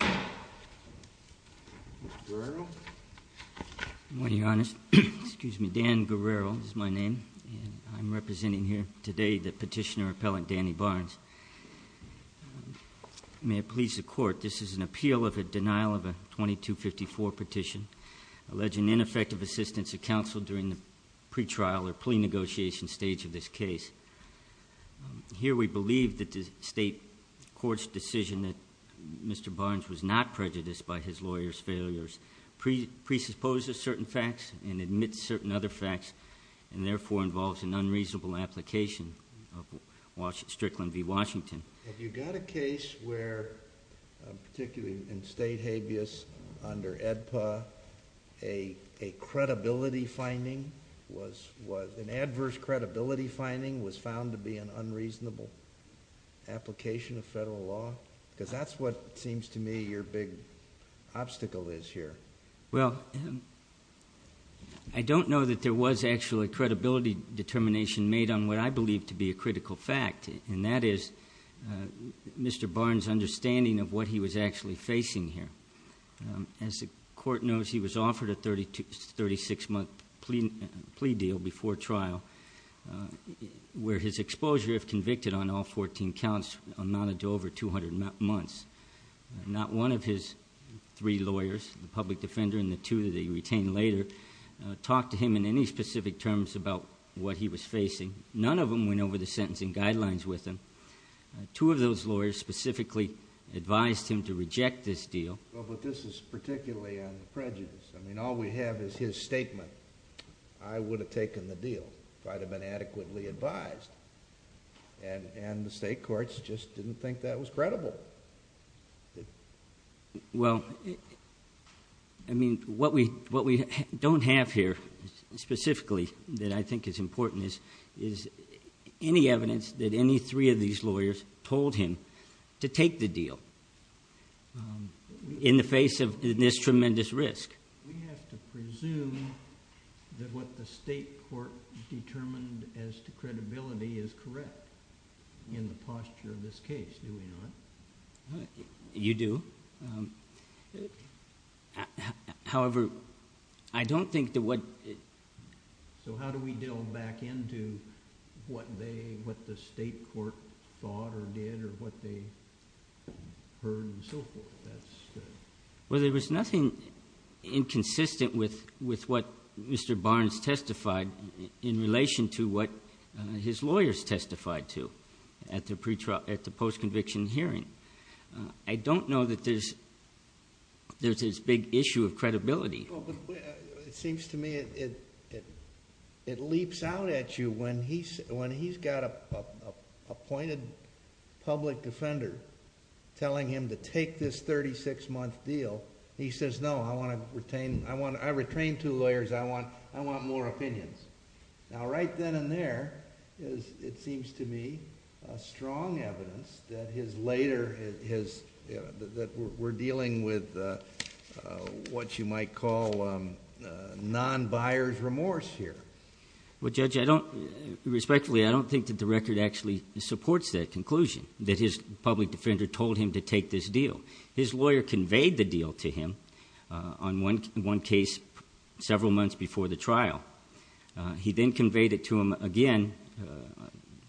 Good morning, Your Honor. Excuse me. Dan Guerrero is my name. I'm representing here today the petitioner appellant Danny Barnes. May it please the Court, this is an appeal of a denial of a 2254 petition alleging ineffective assistance of counsel during the pretrial or plea negotiation stage of this case. Here we believe that the State Court's decision that Mr. Barnes was not prejudiced by his lawyer's failures presupposes certain facts and admits certain other facts and therefore involves an unreasonable application of Strickland v. Washington. Have you got a case where, particularly in State habeas under AEDPA, an adverse credibility finding was found to be an unreasonable application of federal law? Because that's what seems to me your big obstacle is here. Well, I don't know that there was actually credibility determination made on what I believe to be a critical fact and that is Mr. Barnes' understanding of what he was actually facing here. As the Court knows, he was offered a 36-month plea deal before trial where his exposure, if convicted on all 14 counts, amounted to over 200 months. Not one of his three lawyers, the public defender and the two that he retained later, talked to him in any specific terms about what he was facing. None of them went over the sentencing guidelines with him. Two of those lawyers specifically advised him to reject this deal. Well, but this is particularly on prejudice. I mean, all we have is his statement, I would have taken the deal if I'd have been adequately advised. And the State Courts just didn't think that was credible. Well, I mean, what we don't have here specifically that I think is important is any evidence that any three of these lawyers told him to take the deal in the face of this tremendous risk. We have to presume that what the State Court determined as to credibility is correct in the posture of this case, do we not? You do. However, I don't think that what... So, how do we delve back into what they, what the State Court thought or did or what they heard and so forth? Well, there was nothing inconsistent with what Mr. Barnes testified in relation to what his lawyers testified to at the post-conviction hearing. I don't know that there's this big issue of credibility. Well, but it seems to me it leaps out at you when he's got an appointed public defender telling him to take this thirty-six month deal, he says, no, I want to retain... I think that is, it seems to me, strong evidence that his later... that we're dealing with what you might call non-buyer's remorse here. Well, Judge, I don't... respectfully, I don't think that the record actually supports that conclusion that his public defender told him to take this deal. His lawyer conveyed the deal to him on one case several months before the trial. He then conveyed it to him again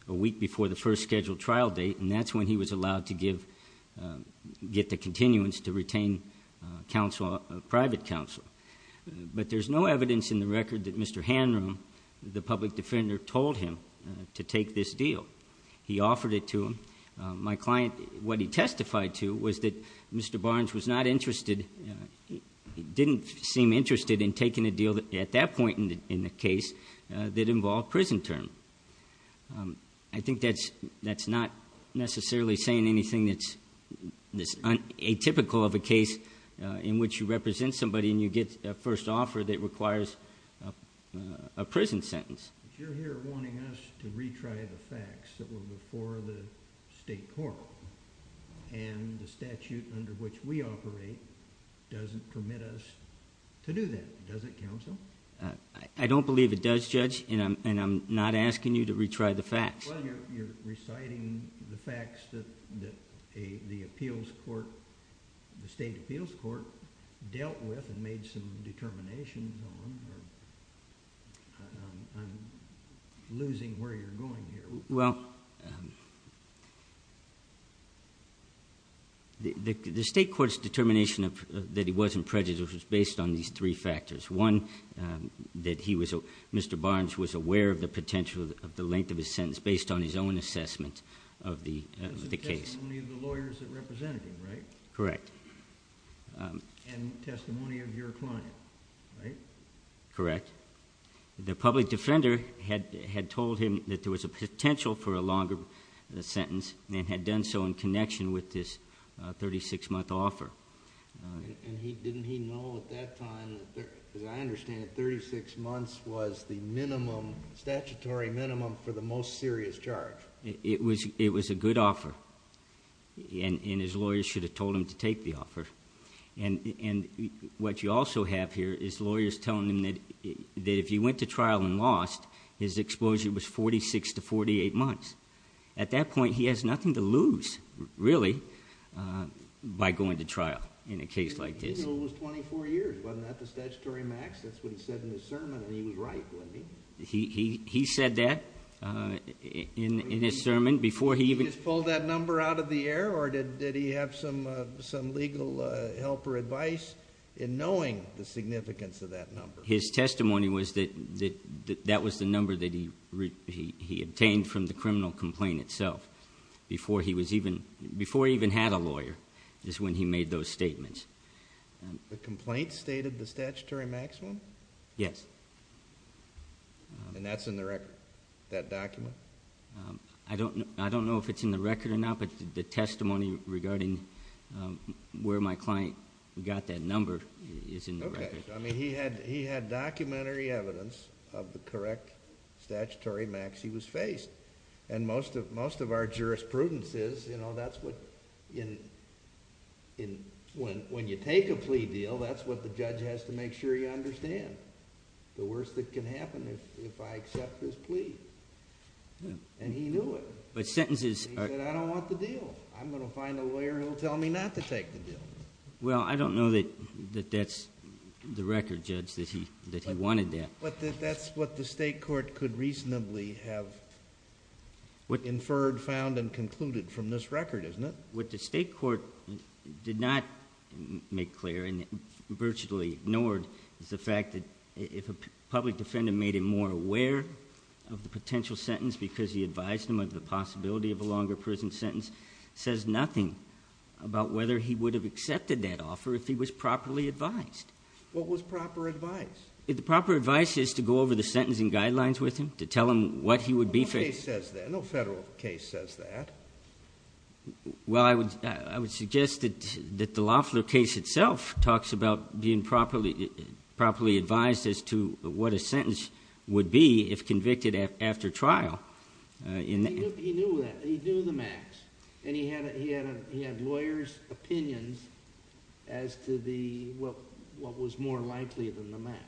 a week before the first scheduled trial date and that's when he was allowed to give, get the continuance to retain counsel, private counsel. But there's no evidence in the record that Mr. Hanroom, the public defender, told him to take this deal. He offered it to him. My client, what he testified to was that Mr. Barnes was not interested, didn't seem interested in taking a deal at that point in the case that involved prison term. I think that's not necessarily saying anything that's atypical of a case in which you represent somebody and you get a first offer that requires a prison sentence. You're here wanting us to retry the facts that were before the state court and the statute under which we operate doesn't permit us to do that, does it, counsel? I don't believe it does, Judge, and I'm not asking you to retry the facts. Well, you're reciting the facts that the appeals court, the state appeals court, dealt with and made some determinations on. I'm losing where you're going here. Well, the state court's determination that he wasn't prejudiced was based on these three factors. One, that Mr. Barnes was aware of the potential of the length of his sentence based on his own assessment of the case. Because of the testimony of the lawyers that represented him, right? Correct. And testimony of your client, right? Correct. The public defender had told him that there was a potential for a longer sentence and had done so in connection with this 36-month offer. And didn't he know at that time, as I understand it, 36 months was the minimum, statutory minimum for the most serious charge? It was a good offer, and his lawyers should have told him to take the offer. What you are telling him is that if he went to trial and lost, his exposure was 46 to 48 months. At that point, he has nothing to lose, really, by going to trial in a case like this. He knew it was 24 years. Wasn't that the statutory max? That's what he said in his sermon, and he was right, wasn't he? He said that in his sermon before he even... Did he just pull that number out of the air, or did he have some legal help or advice in terms of the significance of that number? His testimony was that that was the number that he obtained from the criminal complaint itself before he even had a lawyer, is when he made those statements. The complaint stated the statutory maximum? Yes. And that's in the record, that document? I don't know if it's in the record or not, but the testimony regarding where my client got that number is in the record. Okay. He had documentary evidence of the correct statutory max he was faced. Most of our jurisprudence is that's what... When you take a plea deal, that's what the judge has to make sure you understand. The worst that can happen is if I accept this plea, and he knew it. Sentences are... He said, I don't want the deal. I'm going to find a lawyer who will tell me not to take the deal. Well, I don't know that that's the record, Judge, that he wanted that. That's what the state court could reasonably have inferred, found, and concluded from this record, isn't it? What the state court did not make clear and virtually ignored is the fact that if a public defendant made him more aware of the potential sentence because he advised him of the possibility of a longer prison sentence, says nothing about whether he would have accepted that offer if he was properly advised. What was proper advice? The proper advice is to go over the sentencing guidelines with him, to tell him what he would be... No case says that. No federal case says that. Well, I would suggest that the Loeffler case itself talks about being properly advised as to what a sentence would be if convicted after trial. He knew that. He knew the max, and he had lawyers' opinions as to what was more likely than the max.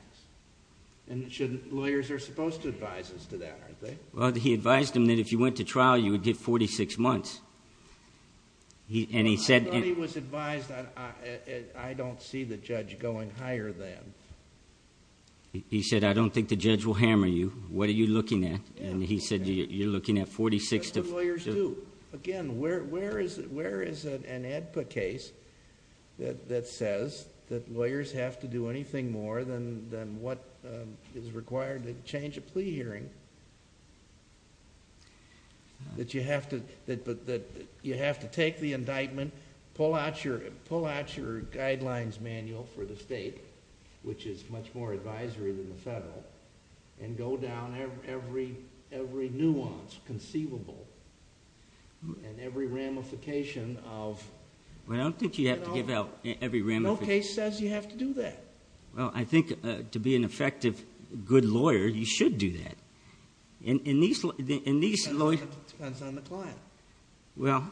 Lawyers are supposed to advise us to that, aren't they? He advised him that if you went to trial, you would get 46 months, and he said... I thought he was advised that I don't see the judge going higher than... He said, I don't think the judge will hammer you. What are you looking at? He said, you're looking at 46... That's what lawyers do. Again, where is an AEDPA case that says that lawyers have to do anything more than what is required to change a plea hearing, that you have to take the indictment, pull out your guidelines manual for the state, which is much more advisory than the federal, and go down every nuance conceivable and every ramification of... Well, I don't think you have to give out every ramification. No case says you have to do that. Well, I think to be an effective good lawyer, you should do that. In these... Depends on the client. Well,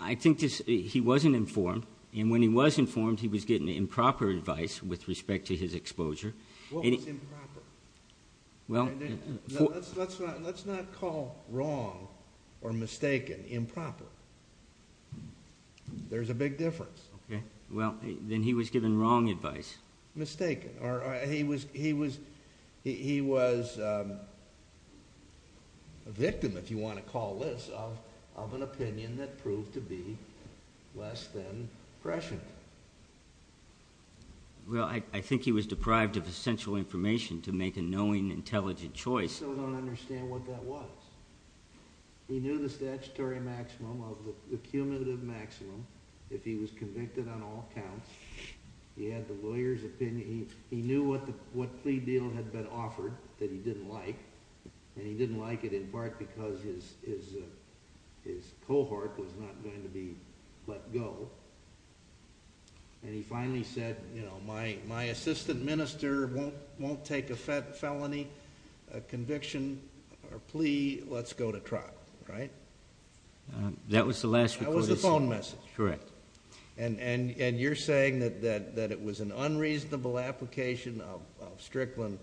I think he wasn't informed, and when he was informed, he was getting improper advice with respect to his exposure. What was improper? Well... Let's not call wrong or mistaken improper. There's a big difference. Well, then he was given wrong advice. Mistaken, or he was a victim, if you want to call this, of an opinion that proved to be less than prescient. Well, I think he was deprived of essential information to make a knowing, intelligent choice. I still don't understand what that was. He knew the statutory maximum of the cumulative maximum if he was convicted on all counts. He had the lawyer's opinion. He knew what plea deal had been offered that he didn't like, and he didn't like it in part because his cohort was not going to be let go, and he finally said, you know, my assistant minister won't take a felony conviction or plea. Let's go to trial, right? That was the last... That was the phone message. Correct. And you're saying that it was an unreasonable application of Strickland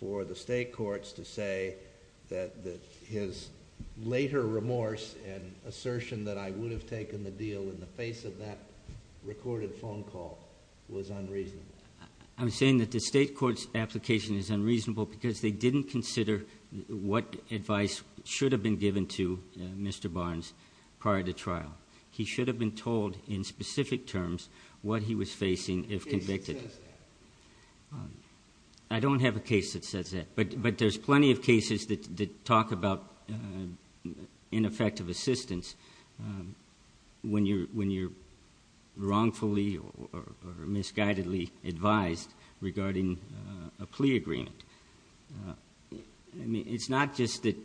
for the state courts to say that his later remorse and assertion that I would have taken the deal in the face of that recorded phone call was unreasonable? I'm saying that the state court's application is unreasonable because they didn't consider what advice should have been given to Mr. Barnes prior to trial. He should have been told in specific terms what he was facing if convicted. What case says that? I don't have a case that says that, but there's plenty of cases that talk about ineffective assistance when you're wrongfully or misguidedly advised regarding a plea agreement. It's not just that...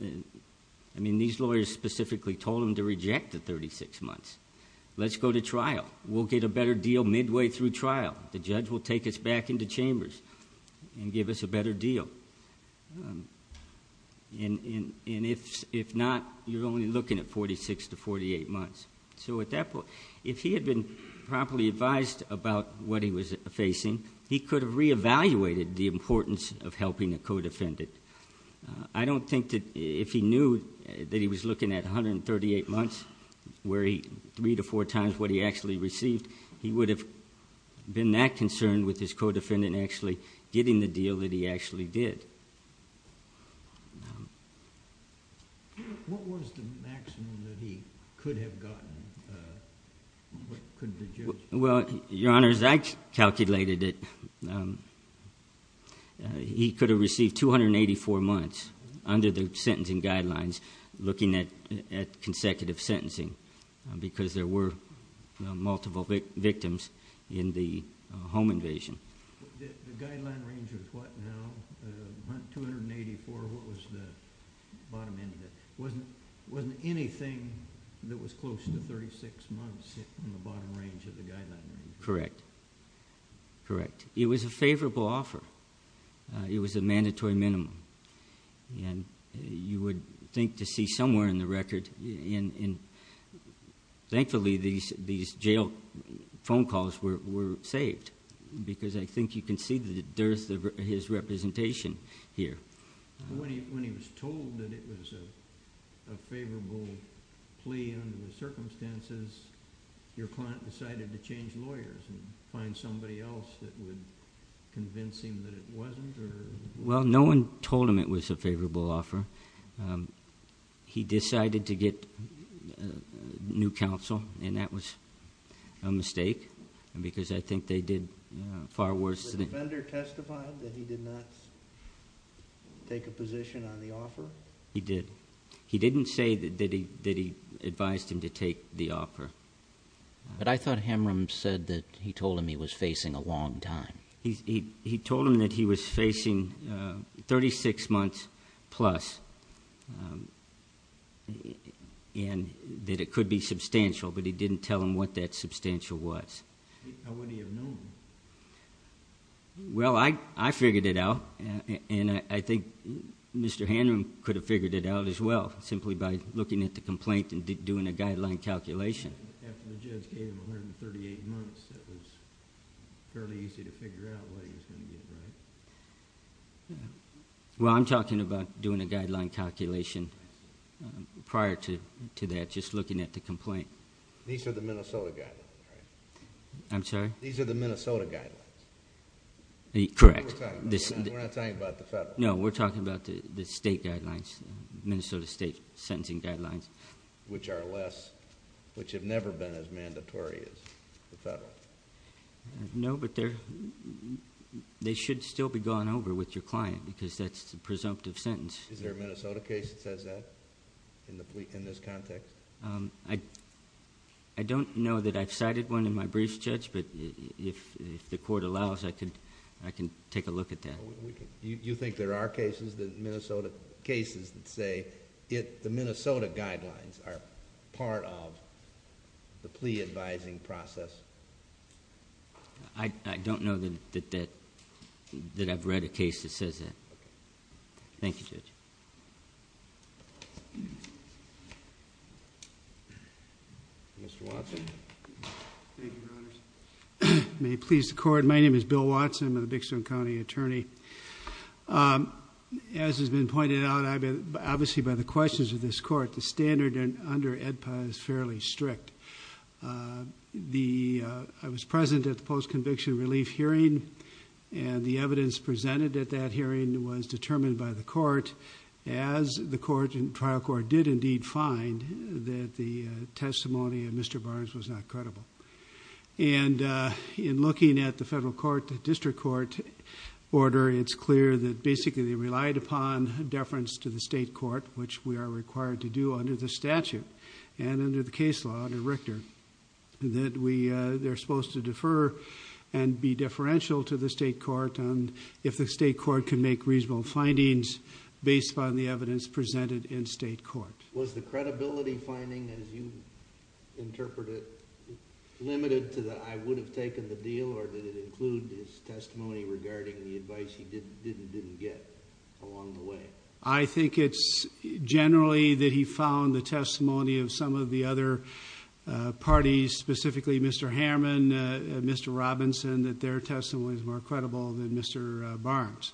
I mean, these lawyers specifically told him to reject the 36 months. Let's go to trial. We'll get a better deal midway through trial. The judge will take us back into chambers and give us a better deal. And if not, you're only looking at 46 to 48 months. So at that point, if he had been properly advised about what he was facing, he could have re-evaluated the importance of helping a co-defendant. I don't think that if he knew that he was looking at 138 months, where he... three to four times what he actually received, he would have been that concerned with his co-defendant actually getting the deal that he actually did. What was the maximum that he could have gotten? What could the judge... Well, Your Honor, as I calculated it, he could have received 284 months under the sentencing guidelines looking at consecutive sentencing because there were multiple victims in the home invasion. The guideline range was what now? 284, what was the bottom end of it? Wasn't anything that was close to 36 months in the bottom range of the guideline range? Correct. Correct. It was a favorable offer. It was a mandatory minimum. And you would think to see somewhere in the record... Thankfully, these jail phone calls were saved because I think you can see the dearth of his representation here. When he was told that it was a favorable plea under the circumstances, your client decided to change lawyers and find somebody else that would convince him that it wasn't? Well, no one told him it was a favorable offer. He decided to get new counsel and that was a mistake because I think they did far worse than... Did the offender testify that he did not take a position on the offer? He did. He didn't say that he advised him to take the offer. But I thought Hamram said that he told him he was facing a long time. He told him that he was facing 36 months plus and that it could be substantial, but he didn't tell him what that substantial was. How would he have known? Well, I figured it out and I think Mr. Hamram could have figured it out as well simply by looking at the complaint and doing a guideline calculation. After the judge gave him 138 months, it was fairly easy to figure out what he was going to get, right? Well, I'm talking about doing a guideline calculation prior to that, just looking at the complaint. These are the Minnesota guidelines, right? I'm sorry? These are the Minnesota guidelines. Correct. We're not talking about the federal. No, we're talking about the state guidelines, Minnesota state sentencing guidelines. Which are less... which have never been as mandatory as the federal. No, but they should still be going over with your client because that's the presumptive sentence. Is there a Minnesota case that says that in this context? I don't know that I've cited one in my brief, Judge, but if the court allows, I can take a look at that. You think there are cases that say the Minnesota guidelines are part of the plea advising process? I don't know that I've read a case that says that. Okay. Thank you, Judge. Mr. Watson? Thank you, Your Honors. May it please the court, my name is Bill Watson. I'm a Big Stone County attorney. As has been pointed out, obviously by the questions of this court, the standard under EDPA is fairly strict. I was present at the post-conviction relief hearing and the evidence presented at that hearing was determined by the court. As the trial court did indeed find that the testimony of Mr. Barnes was not credible. In looking at the federal court district court order, it's clear that basically they relied upon deference to the state court, which we are required to do under the statute and under the case law under Richter. They're supposed to defer and be deferential to the state court if the state court can make reasonable findings based upon the evidence presented in state court. Was the credibility finding, as you interpret it, limited to the I would have taken the deal or did it include his testimony regarding the advice he did and didn't get along the way? I think it's generally that he found the testimony of some of the other parties, specifically Mr. Hammond, Mr. Robinson, that their testimony is more credible than Mr. Barnes.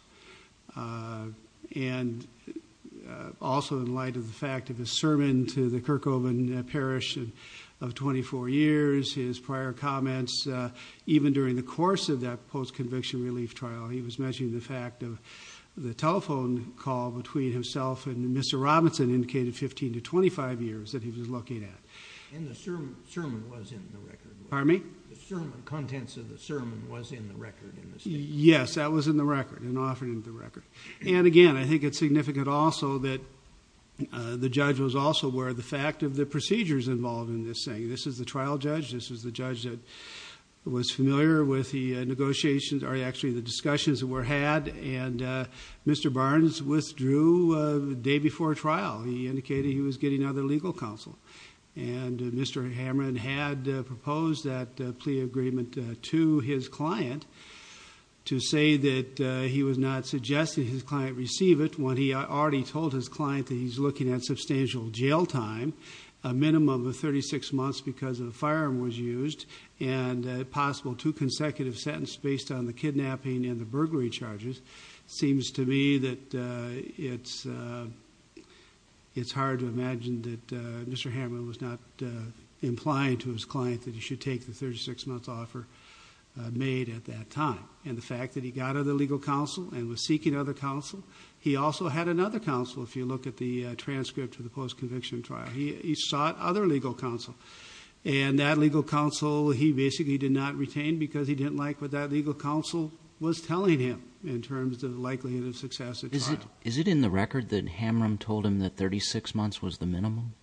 And also in light of the fact of his sermon to the Kirkhoven parish of 24 years, his prior comments, even during the course of that post-conviction relief trial, he was mentioning the fact of the telephone call between himself and Mr. Robinson indicated 15 to 25 years that he was looking at. And the sermon was in the record. Pardon me? The contents of the sermon was in the record in the state court. Yes, that was in the record and offered in the record. And again, I think it's significant also that the judge was also aware of the fact of the procedures involved in this thing. This is the trial judge. This is the judge that was familiar with the negotiations or actually the discussions that were had. And Mr. Barnes withdrew the day before trial. He indicated he was getting other legal counsel. And Mr. Hammond had proposed that plea agreement to his client to say that he was not suggesting his client receive it when he already told his client that he's looking at substantial jail time, a minimum of 36 months because the firearm was used, and a possible two consecutive sentences based on the kidnapping and the burglary charges. It seems to me that it's hard to imagine that Mr. Hammond was not implying to his client that he should take the 36-month offer made at that time. And the fact that he got other legal counsel and was seeking other counsel, he also had another counsel if you look at the transcript of the post-conviction trial. He sought other legal counsel. And that legal counsel he basically did not retain because he didn't like what that legal counsel was telling him in terms of the likelihood of success at trial. Is it in the record that Hammond told him that 36 months was the minimum?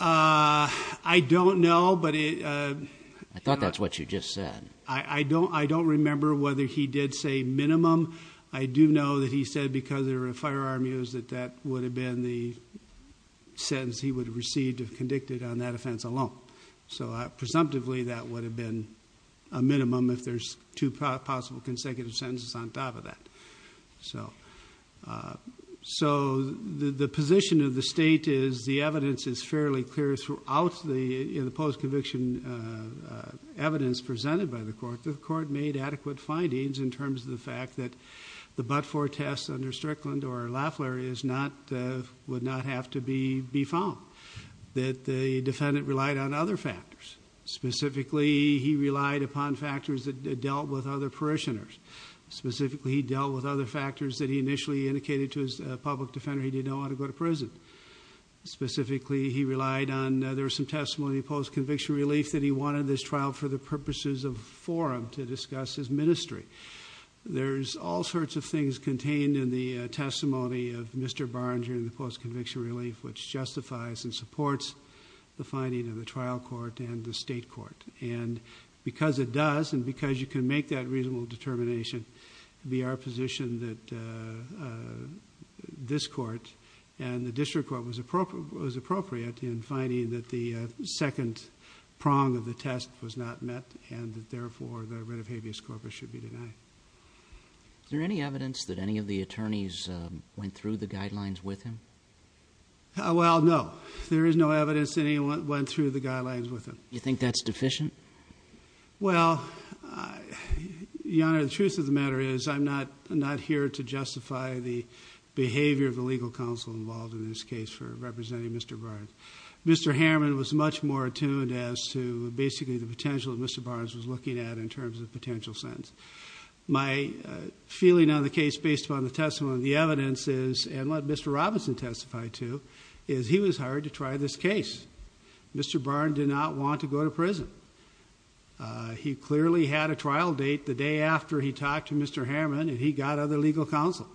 I don't know, but it- I thought that's what you just said. I don't remember whether he did say minimum. I do know that he said because there were firearm use that that would have been the sentence he would have received if convicted on that offense alone. So presumptively that would have been a minimum if there's two possible consecutive sentences on top of that. So the position of the state is the evidence is fairly clear throughout the post-conviction evidence presented by the court. The court made adequate findings in terms of the fact that the but-for test under Strickland or Lafleur would not have to be found. That the defendant relied on other factors. Specifically, he relied upon factors that dealt with other parishioners. Specifically, he dealt with other factors that he initially indicated to his public defender he didn't know how to go to prison. Specifically, he relied on, there was some testimony of post-conviction relief that he wanted this trial for the purposes of forum to discuss his ministry. There's all sorts of things contained in the testimony of Mr. Barnes during the post-conviction relief which justifies and supports the finding of the trial court and the state court. And because it does, and because you can make that reasonable determination, it would be our position that this court and the district court was appropriate in finding that the second prong of the test was not met and therefore the writ of habeas corpus should be denied. Is there any evidence that any of the attorneys went through the guidelines with him? Well, no. There is no evidence that anyone went through the guidelines with him. You think that's deficient? Well, Your Honor, the truth of the matter is I'm not here to justify the behavior of the legal counsel involved in this case for representing Mr. Barnes. Mr. Harriman was much more attuned as to basically the potential that Mr. Barnes was looking at in terms of potential sentence. My feeling on the case based upon the testimony of the evidence is, and what Mr. Robinson testified to, is he was hired to try this case. Mr. Barnes did not want to go to prison. He clearly had a trial date the day after he talked to Mr. Harriman and he got other legal counsel.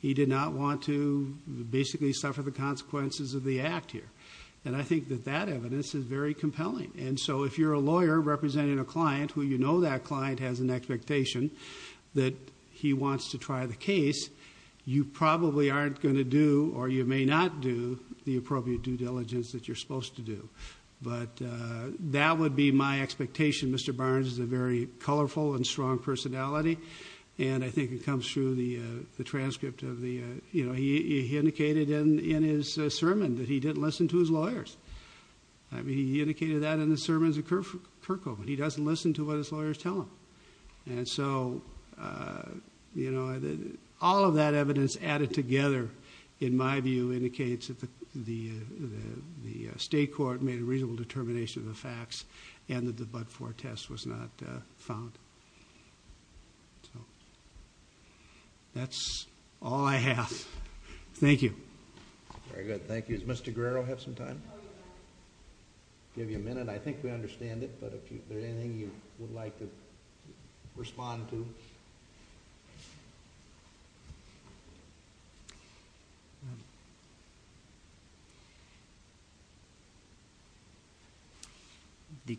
He did not want to basically suffer the consequences of the act here. And I think that that evidence is very compelling. And so if you're a lawyer representing a client who you know that client has an expectation that he wants to try the case, you probably aren't going to do or you may not do the appropriate due diligence that you're supposed to do. But that would be my expectation. Mr. Barnes is a very colorful and strong personality and I think it comes through the transcript of the, you know, he indicated in his sermon that he didn't listen to his lawyers. He indicated that in the sermons of Kirchhoff. He doesn't listen to what his lawyers tell him. And so, you know, all of that evidence added together, in my view, indicates that the state court made a reasonable determination of the facts and that the Budford test was not found. So that's all I have. Thank you. Very good. Thank you. Does Mr. Guerrero have some time? Oh, yeah. I'll give you a minute. I think we understand it. But if there's anything you would like to respond to. The,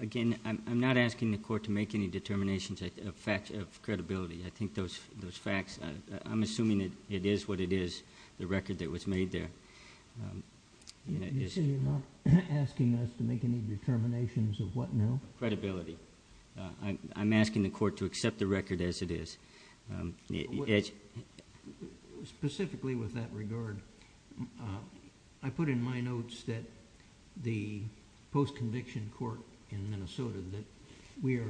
again, I'm not asking the court to make any determinations of credibility. I think those facts, I'm assuming it is what it is, the record that was made there. You say you're not asking us to make any determinations of what now? Credibility. I'm asking the court to accept the record as it is. Specifically with that regard, I put in my notes that the post-conviction court in Minnesota that we are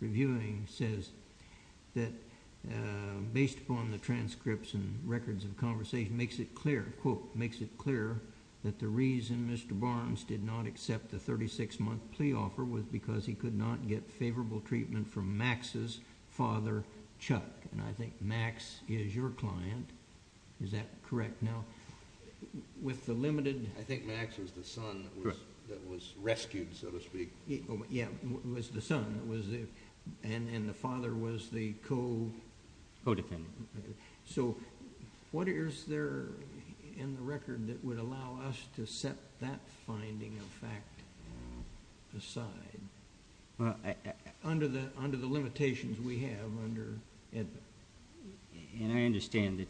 reviewing says that based upon the transcripts and records of conversation, it makes it clear, quote, makes it clear that the reason Mr. Barnes did not accept the 36-month plea offer was because he could not get favorable treatment from Max's father, Chuck. And I think Max is your client. Is that correct? Now, with the limited... I think Max was the son that was rescued, so to speak. Yeah, was the son. And the father was the co... Codependent. So what is there in the record that would allow us to set that finding of fact aside? Well, I... Under the limitations we have under Edmund. And I understand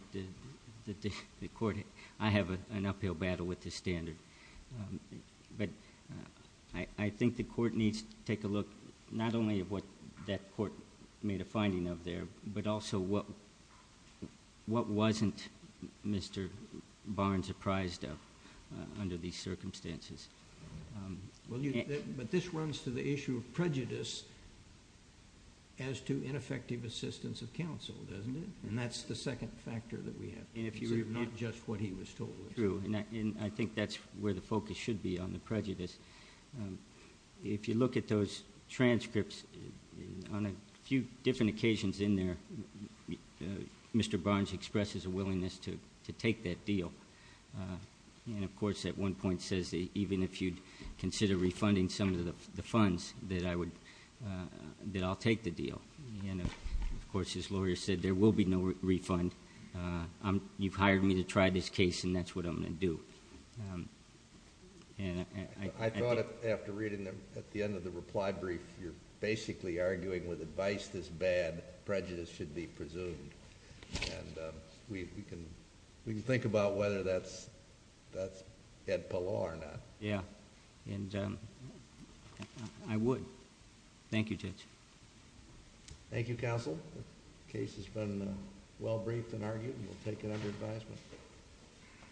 that the court... I have an uphill battle with this standard. But I think the court needs to take a look not only at what that court made a finding of there, but also what wasn't Mr. Barnes apprised of under these circumstances. But this runs to the issue of prejudice as to ineffective assistance of counsel, doesn't it? And that's the second factor that we have. And if you... Not just what he was told. And I think that's where the focus should be on the prejudice. If you look at those transcripts, on a few different occasions in there, Mr. Barnes expresses a willingness to take that deal. And of course, at one point says that even if you'd consider refunding some of the funds, that I would... that I'll take the deal. And of course, his lawyer said there will be no refund. You've hired me to try this case, and that's what I'm going to do. And I... I thought after reading at the end of the reply brief, you're basically arguing with advice this bad, prejudice should be presumed. And we can... we can think about whether that's... that's Edpelaw or not. Yeah. And I would. Thank you, Judge. Thank you, Counsel. Case has been well briefed and argued. We'll take it under advisement.